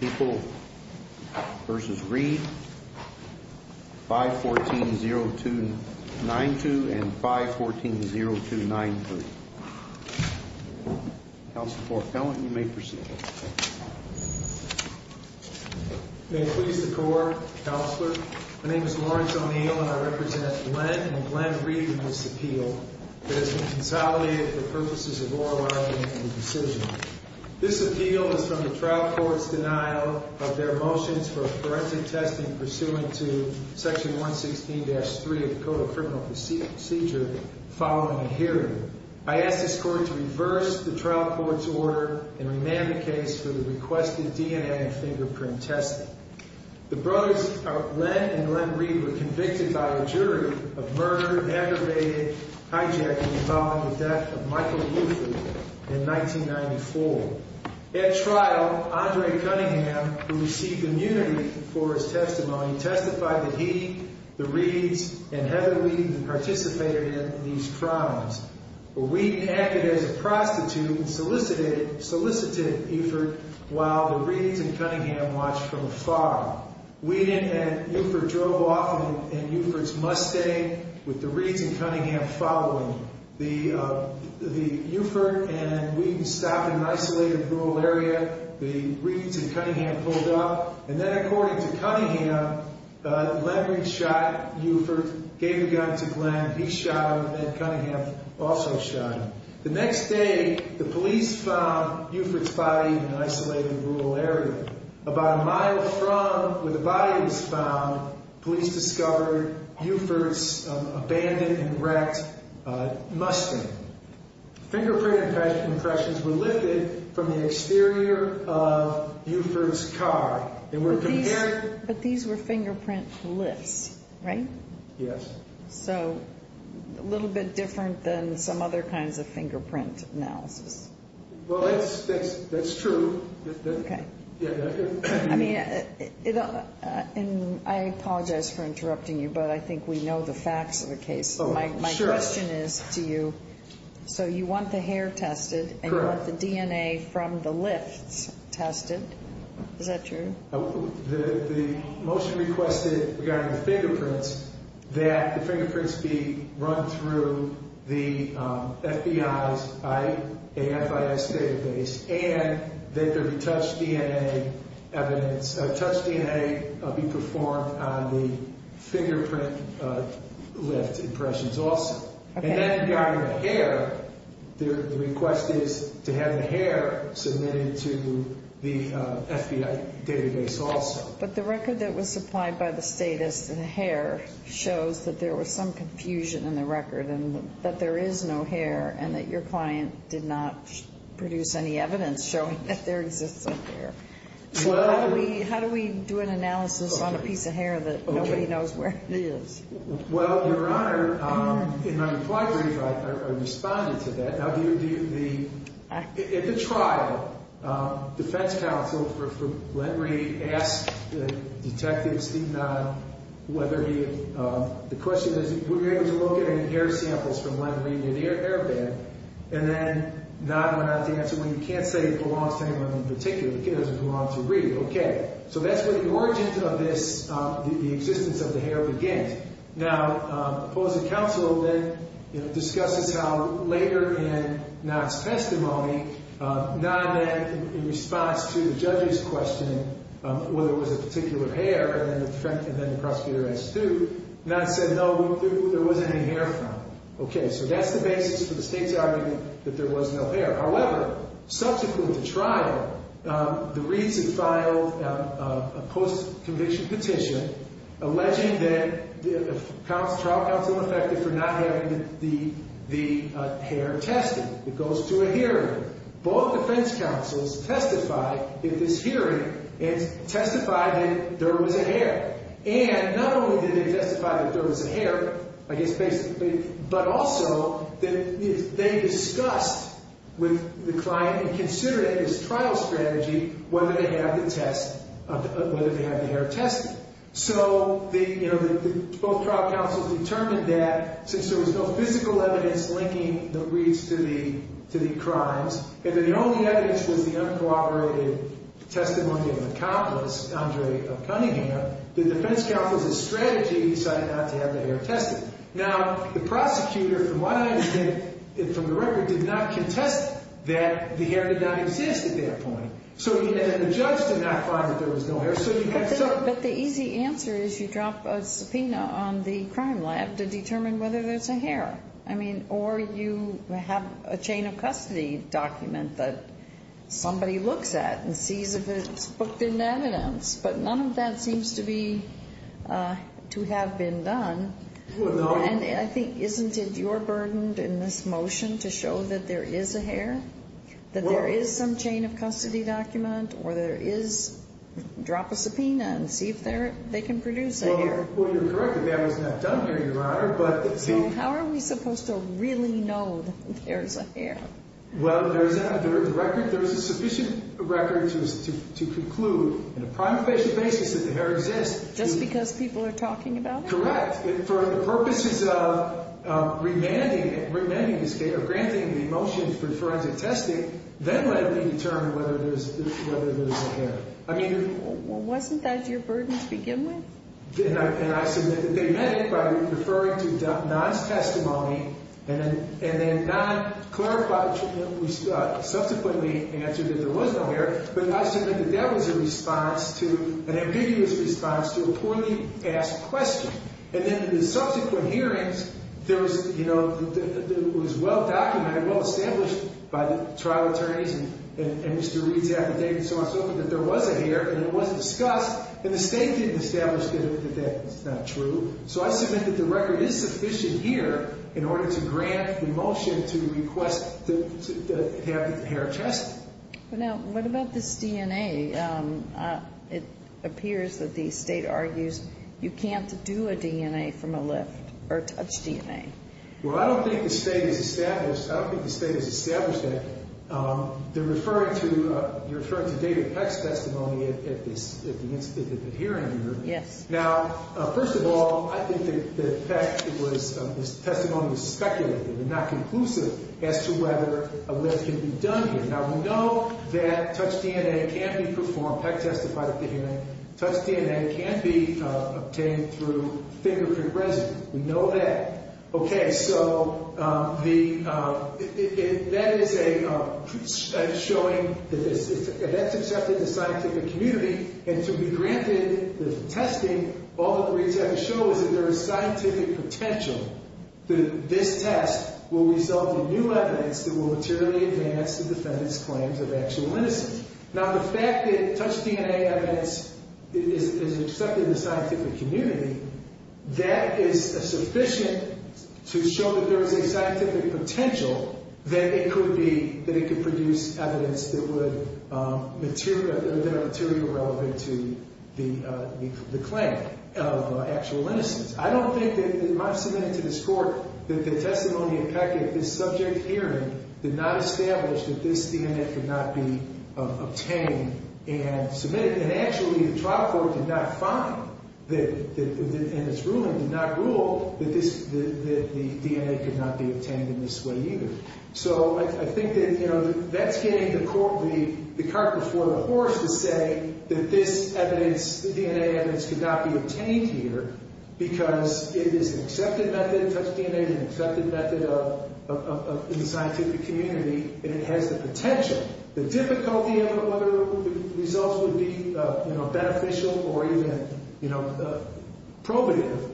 People v. Reed, 514-0292 and 514-0293. Counsel for appellant, you may proceed. May it please the Court, Counselor. My name is Lawrence O'Neill and I represent Glenn and Glenn Reed in this appeal that has been consolidated for purposes of oral argument and decision. This appeal is from the trial court's denial of their motions for forensic testing pursuant to section 116-3 of the Code of Criminal Procedure following a hearing. I ask this Court to reverse the trial court's order and remand the case for the requested DNA and fingerprint testing. The brothers, Glenn and Glenn Reed, were convicted by a jury of murder, hijacked and found at the death of Michael Luther in 1994. At trial, Andre Cunningham, who received immunity for his testimony, testified that he, the Reeds, and Heather Reed participated in these crimes. Reed acted as a prostitute and solicited Euford while the Reeds and Cunningham watched from afar. Weedon and Euford drove off in Euford's Mustang with the Reeds and Cunningham following. Euford and Weedon stopped in an isolated rural area. The Reeds and Cunningham pulled up and then, according to Cunningham, Leonard shot Euford, gave the gun to Glenn. He shot him and then Cunningham also shot him. The next day, the police found Euford's body in an isolated rural area. About a mile from where the body was found, police discovered Euford's abandoned and wrecked Mustang. Fingerprint impressions were lifted from the exterior of Euford's car. They were compared. But these were fingerprint lifts, right? Yes. So a little bit different than some other kinds of fingerprint analysis. Well, that's true. I mean, I apologize for interrupting you, but I think we know the facts of the case. My question is to you. So you want the hair tested and you want the DNA from the lifts tested. Is that true? The motion requested regarding the fingerprints, that the fingerprints be run through the FBI's AFIS database and that the touch DNA be performed on the fingerprint lift impressions also. And then regarding the hair, the request is to have the hair submitted to the FBI database also. But the record that was supplied by the state as the hair shows that there was some confusion in the record and that there is no hair and that your client did not produce any evidence showing that there exists some hair. So how do we do an analysis on a piece of hair that nobody knows where it is? Well, Your Honor, in my reply brief, I responded to that. Now, at the trial, defense counsel for Len Reed asked the detectives, the question is, were you able to look at any hair samples from Len Reed near the airbag? And then Nod went on to answer, when you can't say it belongs to anyone in particular, it doesn't belong to Reed. Okay. So that's where the origin of this, the existence of the hair begins. Now, opposing counsel then discusses how later in Nod's testimony, Nod then in response to the judge's question, whether it was a particular hair, and then the prosecutor asked, do, Nod said, no, there wasn't any hair found. Okay. So that's the basis for the state's argument that there was no hair. However, subsequent to trial, the Reeds had filed a post-conviction petition alleging that the trial counsel was affected for not having the hair tested. It goes to a hearing. Both defense counsels testified in this hearing and testified that there was a hair. And not only did they testify that there was a hair, I guess basically, but also they discussed with the client and considered it as trial strategy whether they have the test, whether they have the hair tested. So the, you know, both trial counsels determined that since there was no physical evidence linking the Reeds to the crimes, and that the only evidence was the uncooperated testimony of an accomplice, Andre of Cunningham, the defense counsel's strategy decided not to have the hair tested. Now, the prosecutor, from what I understand from the record, did not contest that the hair did not exist at that point. So the judge did not find that there was no hair. But the easy answer is you drop a subpoena on the crime lab to determine whether there's a hair. I mean, or you have a chain of custody document that somebody looks at and sees if it's booked into evidence. But none of that seems to be to have been done. And I think, isn't it your burden in this motion to show that there is a hair, that there is some chain of custody document, or there is drop a subpoena and see if they can produce a hair? Well, you're correct that that was not done here, Your Honor. So how are we supposed to really know that there's a hair? Well, there's a record. There's a sufficient record to conclude on a primary basis that the hair exists. Just because people are talking about it? Correct. For the purposes of remanding the motion for forensic testing, then let me determine whether there's a hair. Wasn't that your burden to begin with? And I submit that they meant it by referring to Don's testimony and then Don clarified, subsequently answered that there was no hair. But I submit that that was a response to, an ambiguous response to a poorly asked question. And then in the subsequent hearings, there was, you know, it was well documented, well established by the trial attorneys and Mr. Reed's affidavit and so on and so forth, that there was a hair and it was discussed. And the State didn't establish that that was not true. So I submit that the record is sufficient here in order to grant the motion to request to have the hair tested. Now, what about this DNA? It appears that the State argues you can't do a DNA from a lift or touch DNA. Well, I don't think the State has established that. They're referring to David Peck's testimony at the hearing here. Yes. Now, first of all, I think that Peck's testimony was speculative and not conclusive as to whether a lift can be done here. Now, we know that touch DNA can't be performed. Peck testified at the hearing. Touch DNA can't be obtained through fingerprint residue. We know that. Okay. So that is a showing that that's accepted in the scientific community. And to be granted the testing, all that we have to show is that there is scientific potential that this test will result in new evidence that will materially advance the defendant's claims of actual innocence. Now, the fact that touch DNA evidence is accepted in the scientific community, that is sufficient to show that there is a scientific potential that it could be, that it could produce evidence that would material, that are material relevant to the claim of actual innocence. I don't think that it might have submitted to this Court that the testimony of Peck at this subject hearing did not establish that this DNA could not be obtained and submitted. And actually, the trial court did not find, and its ruling did not rule, that this, that the DNA could not be obtained in this way either. So I think that, you know, that's getting the court, the carpet before the horse to say that this evidence, the DNA evidence, could not be obtained here because it is an accepted method. Touch DNA is an accepted method of, in the scientific community, and it has the potential. The difficulty of whether the results would be, you know, beneficial or even, you know, probative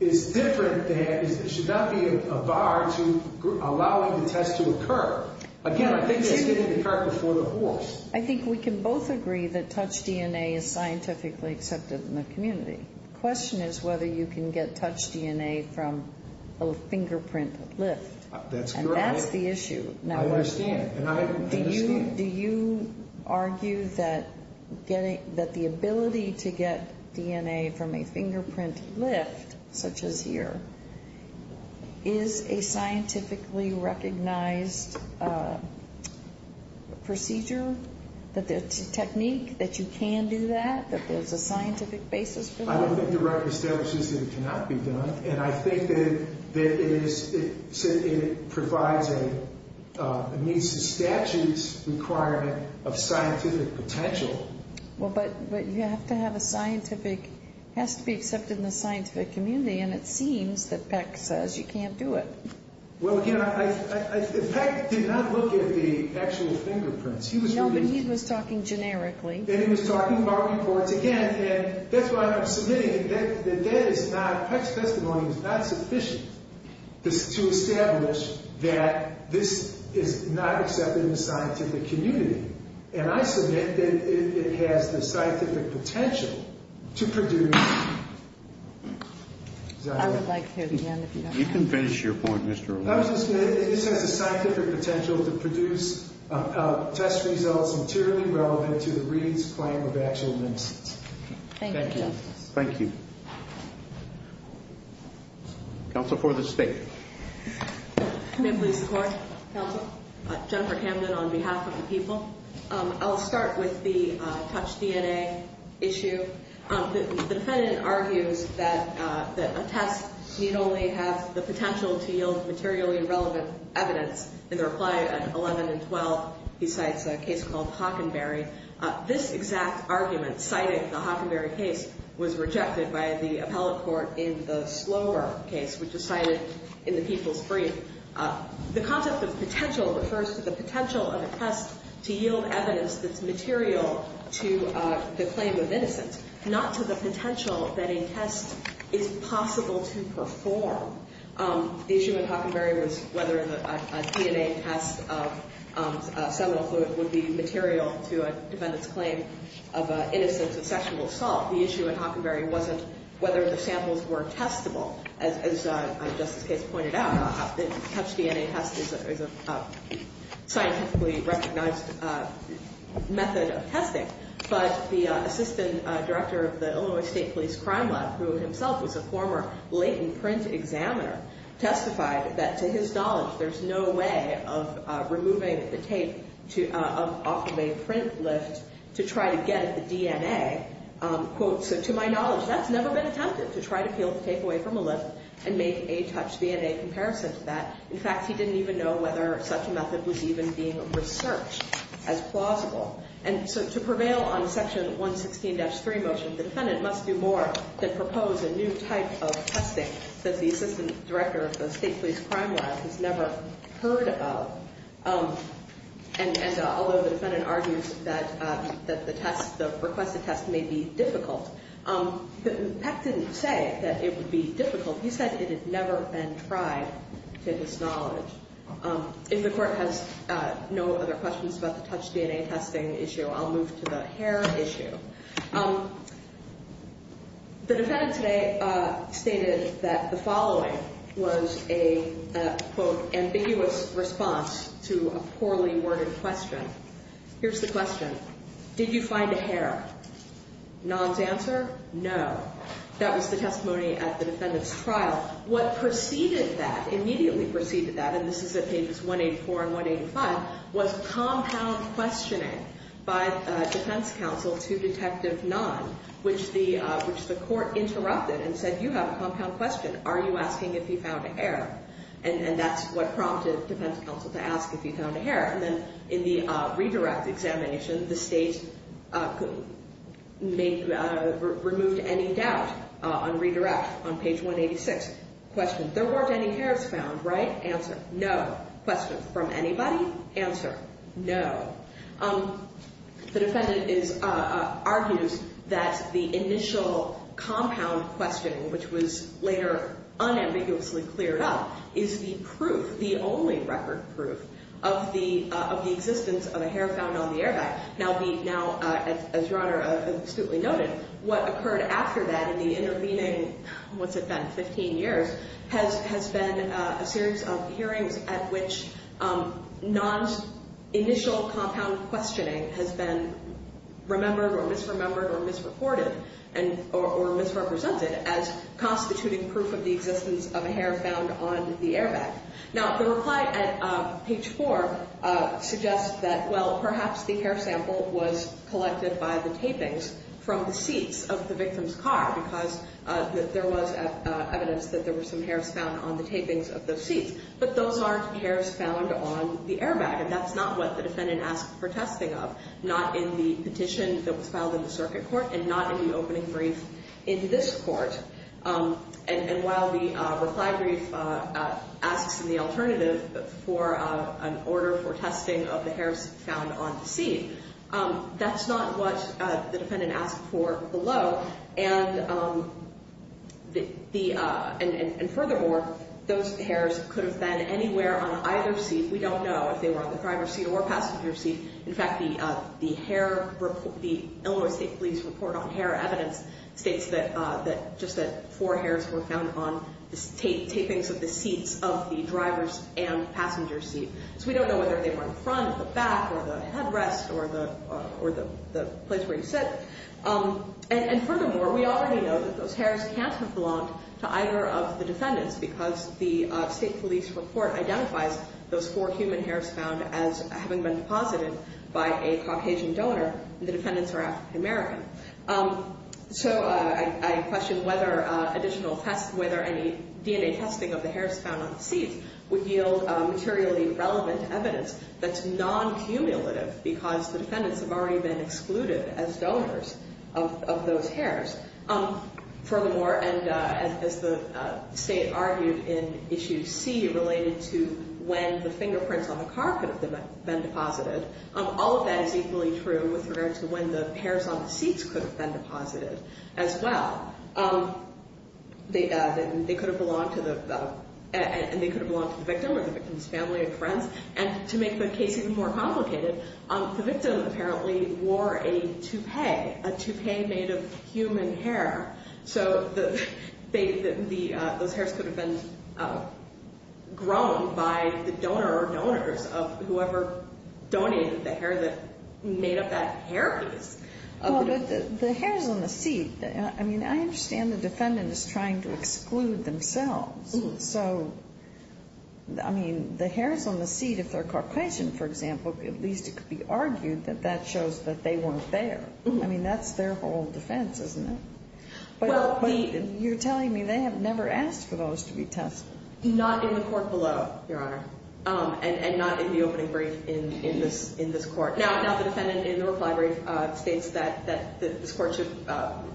is different than, it should not be a bar to allowing the test to occur. Again, I think that's getting the court before the horse. I think we can both agree that touch DNA is scientifically accepted in the community. The question is whether you can get touch DNA from a fingerprint lift. That's correct. And that's the issue. I understand. Do you argue that the ability to get DNA from a fingerprint lift, such as here, is a scientifically recognized procedure, that there's a technique that you can do that, that there's a scientific basis for that? I don't think the record establishes that it cannot be done. And I think that it is, it provides a, it meets the statute's requirement of scientific potential. Well, but you have to have a scientific, it has to be accepted in the scientific community, and it seems that Peck says you can't do it. Well, again, Peck did not look at the actual fingerprints. No, but he was talking generically. And he was talking about reports. Yes, again, and that's why I'm submitting that that is not, Peck's testimony is not sufficient to establish that this is not accepted in the scientific community. And I submit that it has the scientific potential to produce. I would like to hear it again if you don't mind. You can finish your point, Mr. O'Connor. I was just going to say this has the scientific potential to produce test results materially relevant to the Reed's claim of actual nymphs. Thank you. Thank you. Counsel for the State. May it please the Court. Counsel. Jennifer Camden on behalf of the people. I'll start with the touch DNA issue. The defendant argues that a test need only have the potential to yield materially relevant evidence in the reply on 11 and 12. He cites a case called Hockenberry. This exact argument cited in the Hockenberry case was rejected by the appellate court in the Slover case, which is cited in the people's brief. The concept of potential refers to the potential of a test to yield evidence that's material to the claim of innocence. Not to the potential that a test is possible to perform. The issue in Hockenberry was whether a DNA test of seminal fluid would be material to a defendant's claim of innocence and sexual assault. The issue in Hockenberry wasn't whether the samples were testable. As Justice Case pointed out, a touch DNA test is a scientifically recognized method of testing. But the assistant director of the Illinois State Police Crime Lab, who himself was a former latent print examiner, testified that to his knowledge, there's no way of removing the tape off of a print lift to try to get at the DNA. Quote, so to my knowledge, that's never been attempted, to try to peel the tape away from a lift and make a touch DNA comparison to that. In fact, he didn't even know whether such a method was even being researched as plausible. And so to prevail on Section 116-3 motion, the defendant must do more than propose a new type of testing that the assistant director of the State Police Crime Lab has never heard of. And although the defendant argues that the test, the requested test may be difficult, Peck didn't say that it would be difficult. He said it had never been tried to his knowledge. If the court has no other questions about the touch DNA testing issue, I'll move to the hair issue. The defendant today stated that the following was a, quote, ambiguous response to a poorly worded question. Here's the question. Did you find a hair? Non's answer, no. That was the testimony at the defendant's trial. What preceded that, immediately preceded that, and this is at pages 184 and 185, was compound questioning by defense counsel to Detective Non, which the court interrupted and said, you have a compound question. Are you asking if he found a hair? And that's what prompted defense counsel to ask if he found a hair. And then in the redirect examination, the state removed any doubt on redirect on page 186. Question, there weren't any hairs found, right? Answer, no. Question, from anybody? Answer, no. The defendant argues that the initial compound question, which was later unambiguously cleared up, is the proof, the only record proof, of the existence of a hair found on the airbag. Now, as Your Honor astutely noted, what occurred after that, in the intervening, what's it been, 15 years, has been a series of hearings at which non's initial compound questioning has been remembered or misremembered or misreported or misrepresented as constituting proof of the existence of a hair found on the airbag. Now, the reply at page 4 suggests that, well, perhaps the hair sample was collected by the tapings from the seats of the victim's car because there was evidence that there were some hairs found on the tapings of those seats. But those aren't hairs found on the airbag. And that's not what the defendant asked for testing of, not in the petition that was filed in the circuit court and not in the opening brief in this court. And while the reply brief asks in the alternative for an order for testing of the hairs found on the seat, that's not what the defendant asked for below. And furthermore, those hairs could have been anywhere on either seat. We don't know if they were on the driver's seat or passenger seat. In fact, the Illinois State Police report on hair evidence states that just that four hairs were found on the tapings of the seats of the driver's and passenger's seat. So we don't know whether they were in front, the back, or the headrest or the place where you sit. And furthermore, we already know that those hairs can't have belonged to either of the defendants because the State Police report identifies those four human hairs found as having been deposited by a Caucasian donor. The defendants are African American. So I question whether any DNA testing of the hairs found on the seats would yield materially relevant evidence that's non-cumulative because the defendants have already been excluded as donors of those hairs. Furthermore, and as the State argued in Issue C related to when the fingerprints on the car could have been deposited, all of that is equally true with regard to when the hairs on the seats could have been deposited as well. They could have belonged to the victim or the victim's family or friends. And to make the case even more complicated, the victim apparently wore a toupee, a toupee made of human hair. So those hairs could have been grown by the donor or donors of whoever donated the hair that made up that hair piece. Well, but the hairs on the seat, I mean, I understand the defendant is trying to exclude themselves. So, I mean, the hairs on the seat, if they're Caucasian, for example, at least it could be argued that that shows that they weren't there. I mean, that's their whole defense, isn't it? But you're telling me they have never asked for those to be tested. Not in the court below, Your Honor, and not in the opening brief in this court. Now, the defendant in the Rook Library states that this court should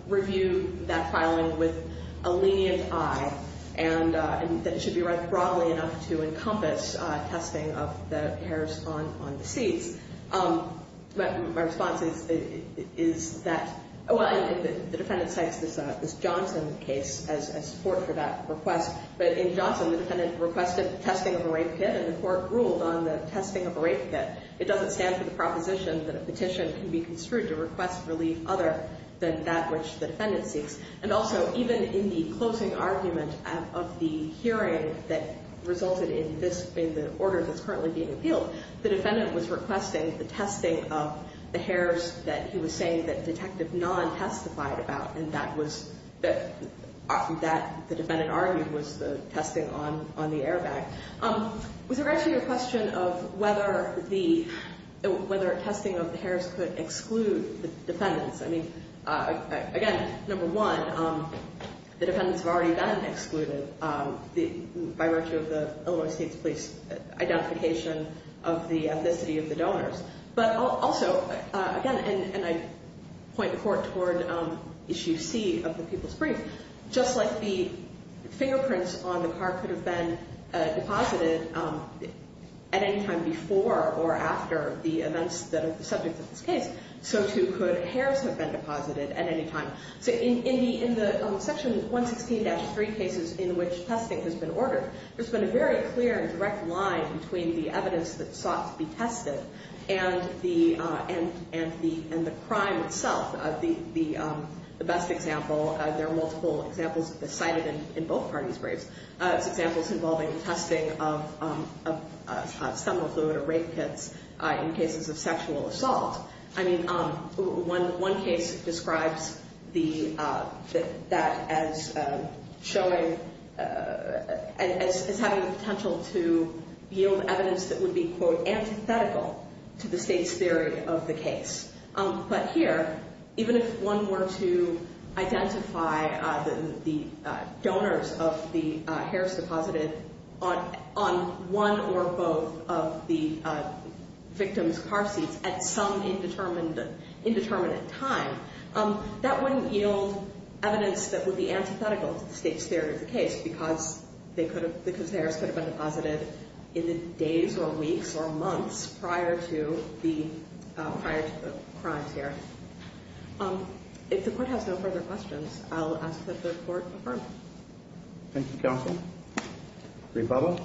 review that filing with a lenient eye and that it should be read broadly enough to encompass testing of the hairs on the seats. But my response is that, well, the defendant cites this Johnson case as support for that request. But in Johnson, the defendant requested testing of a rape kit, and the court ruled on the testing of a rape kit. It doesn't stand for the proposition that a petition can be construed to request relief other than that which the defendant seeks. And also, even in the closing argument of the hearing that resulted in this, in the order that's currently being appealed, the defendant was requesting the testing of the hairs that he was saying that Detective Nahn testified about, and that was, that the defendant argued was the testing on the airbag. Was there actually a question of whether the, whether testing of the hairs could exclude the defendants? I mean, again, number one, the defendants have already been excluded by virtue of the Illinois State's police identification of the ethnicity of the donors. But also, again, and I point the court toward Issue C of the People's Brief, just like the fingerprints on the car could have been deposited at any time before or after the events that are the subject of this case, so too could hairs have been deposited at any time. So in the Section 116-3 cases in which testing has been ordered, there's been a very clear and direct line between the evidence that sought to be tested and the crime itself. The best example, there are multiple examples of this cited in both parties' briefs, examples involving testing of stoma fluid or rape kits in cases of sexual assault. I mean, one case describes that as showing, as having the potential to yield evidence that would be, quote, But here, even if one were to identify the donors of the hairs deposited on one or both of the victims' car seats at some indeterminate time, that wouldn't yield evidence that would be antithetical to the State's theory of the case because the hairs could have been deposited in the days or weeks or months prior to the crimes here. If the Court has no further questions, I'll ask that the Court affirm. Thank you, Counsel. Rebubba?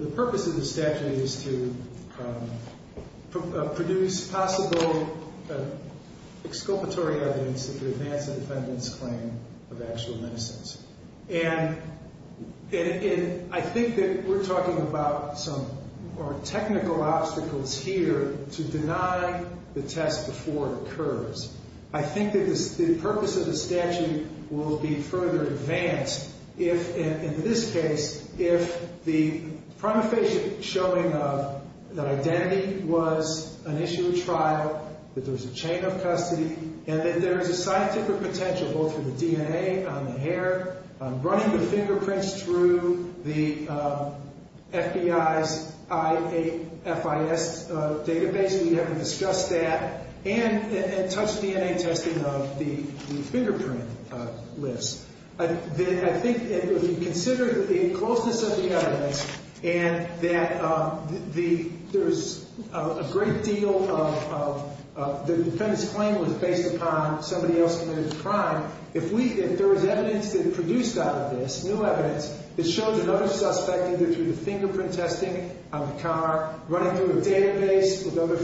The purpose of the statute is to produce possible exculpatory evidence to advance the defendant's claim of actual innocence. And I think that we're talking about some more technical obstacles here to deny the test before it occurs. I think that the purpose of the statute will be further advanced if, in this case, if the prima facie showing of that identity was an issue of trial, that there was a chain of custody, and that there is a scientific potential, both for the DNA on the hair, running the fingerprints through the FBI's FIS database, we haven't discussed that, and touch DNA testing of the fingerprint list. I think if you consider the closeness of the evidence and that there is a great deal of the defendant's claim was based upon somebody else committing a crime, if there was evidence that produced out of this, new evidence, that showed another suspect either through the fingerprint testing on the car, running through a database of other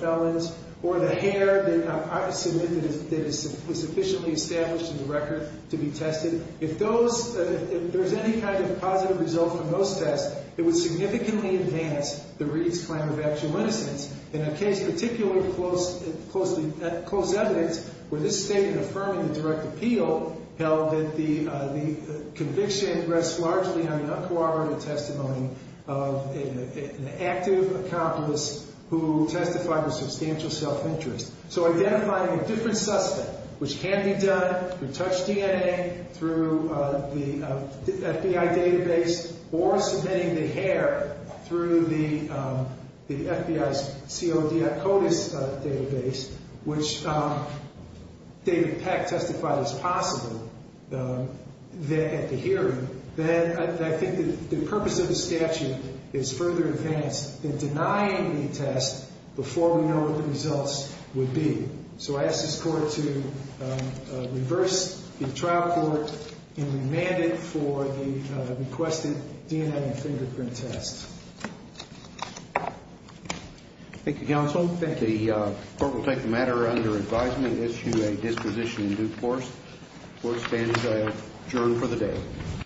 felons, or the hair that was sufficiently established in the record to be tested, if there's any kind of positive result from those tests, it would significantly advance the Reed's claim of actual innocence. In a case particularly close evidence, where this State had affirmed in the direct appeal, held that the conviction rests largely on an uncoordinated testimony of an active accomplice who testified with substantial self-interest. So identifying a different suspect, which can be done through touch DNA, through the FBI database, or submitting the hair through the FBI's CODI CODIS database, which David Peck testified is possible at the hearing, then I think the purpose of the statute is further advanced than denying the test before we know what the results would be. So I ask this Court to reverse the trial court and remand it for the requested DNA fingerprint test. Thank you, Counsel. Thank you. The Court will take the matter under advisement and issue a disposition in due course. Court stands adjourned for the day.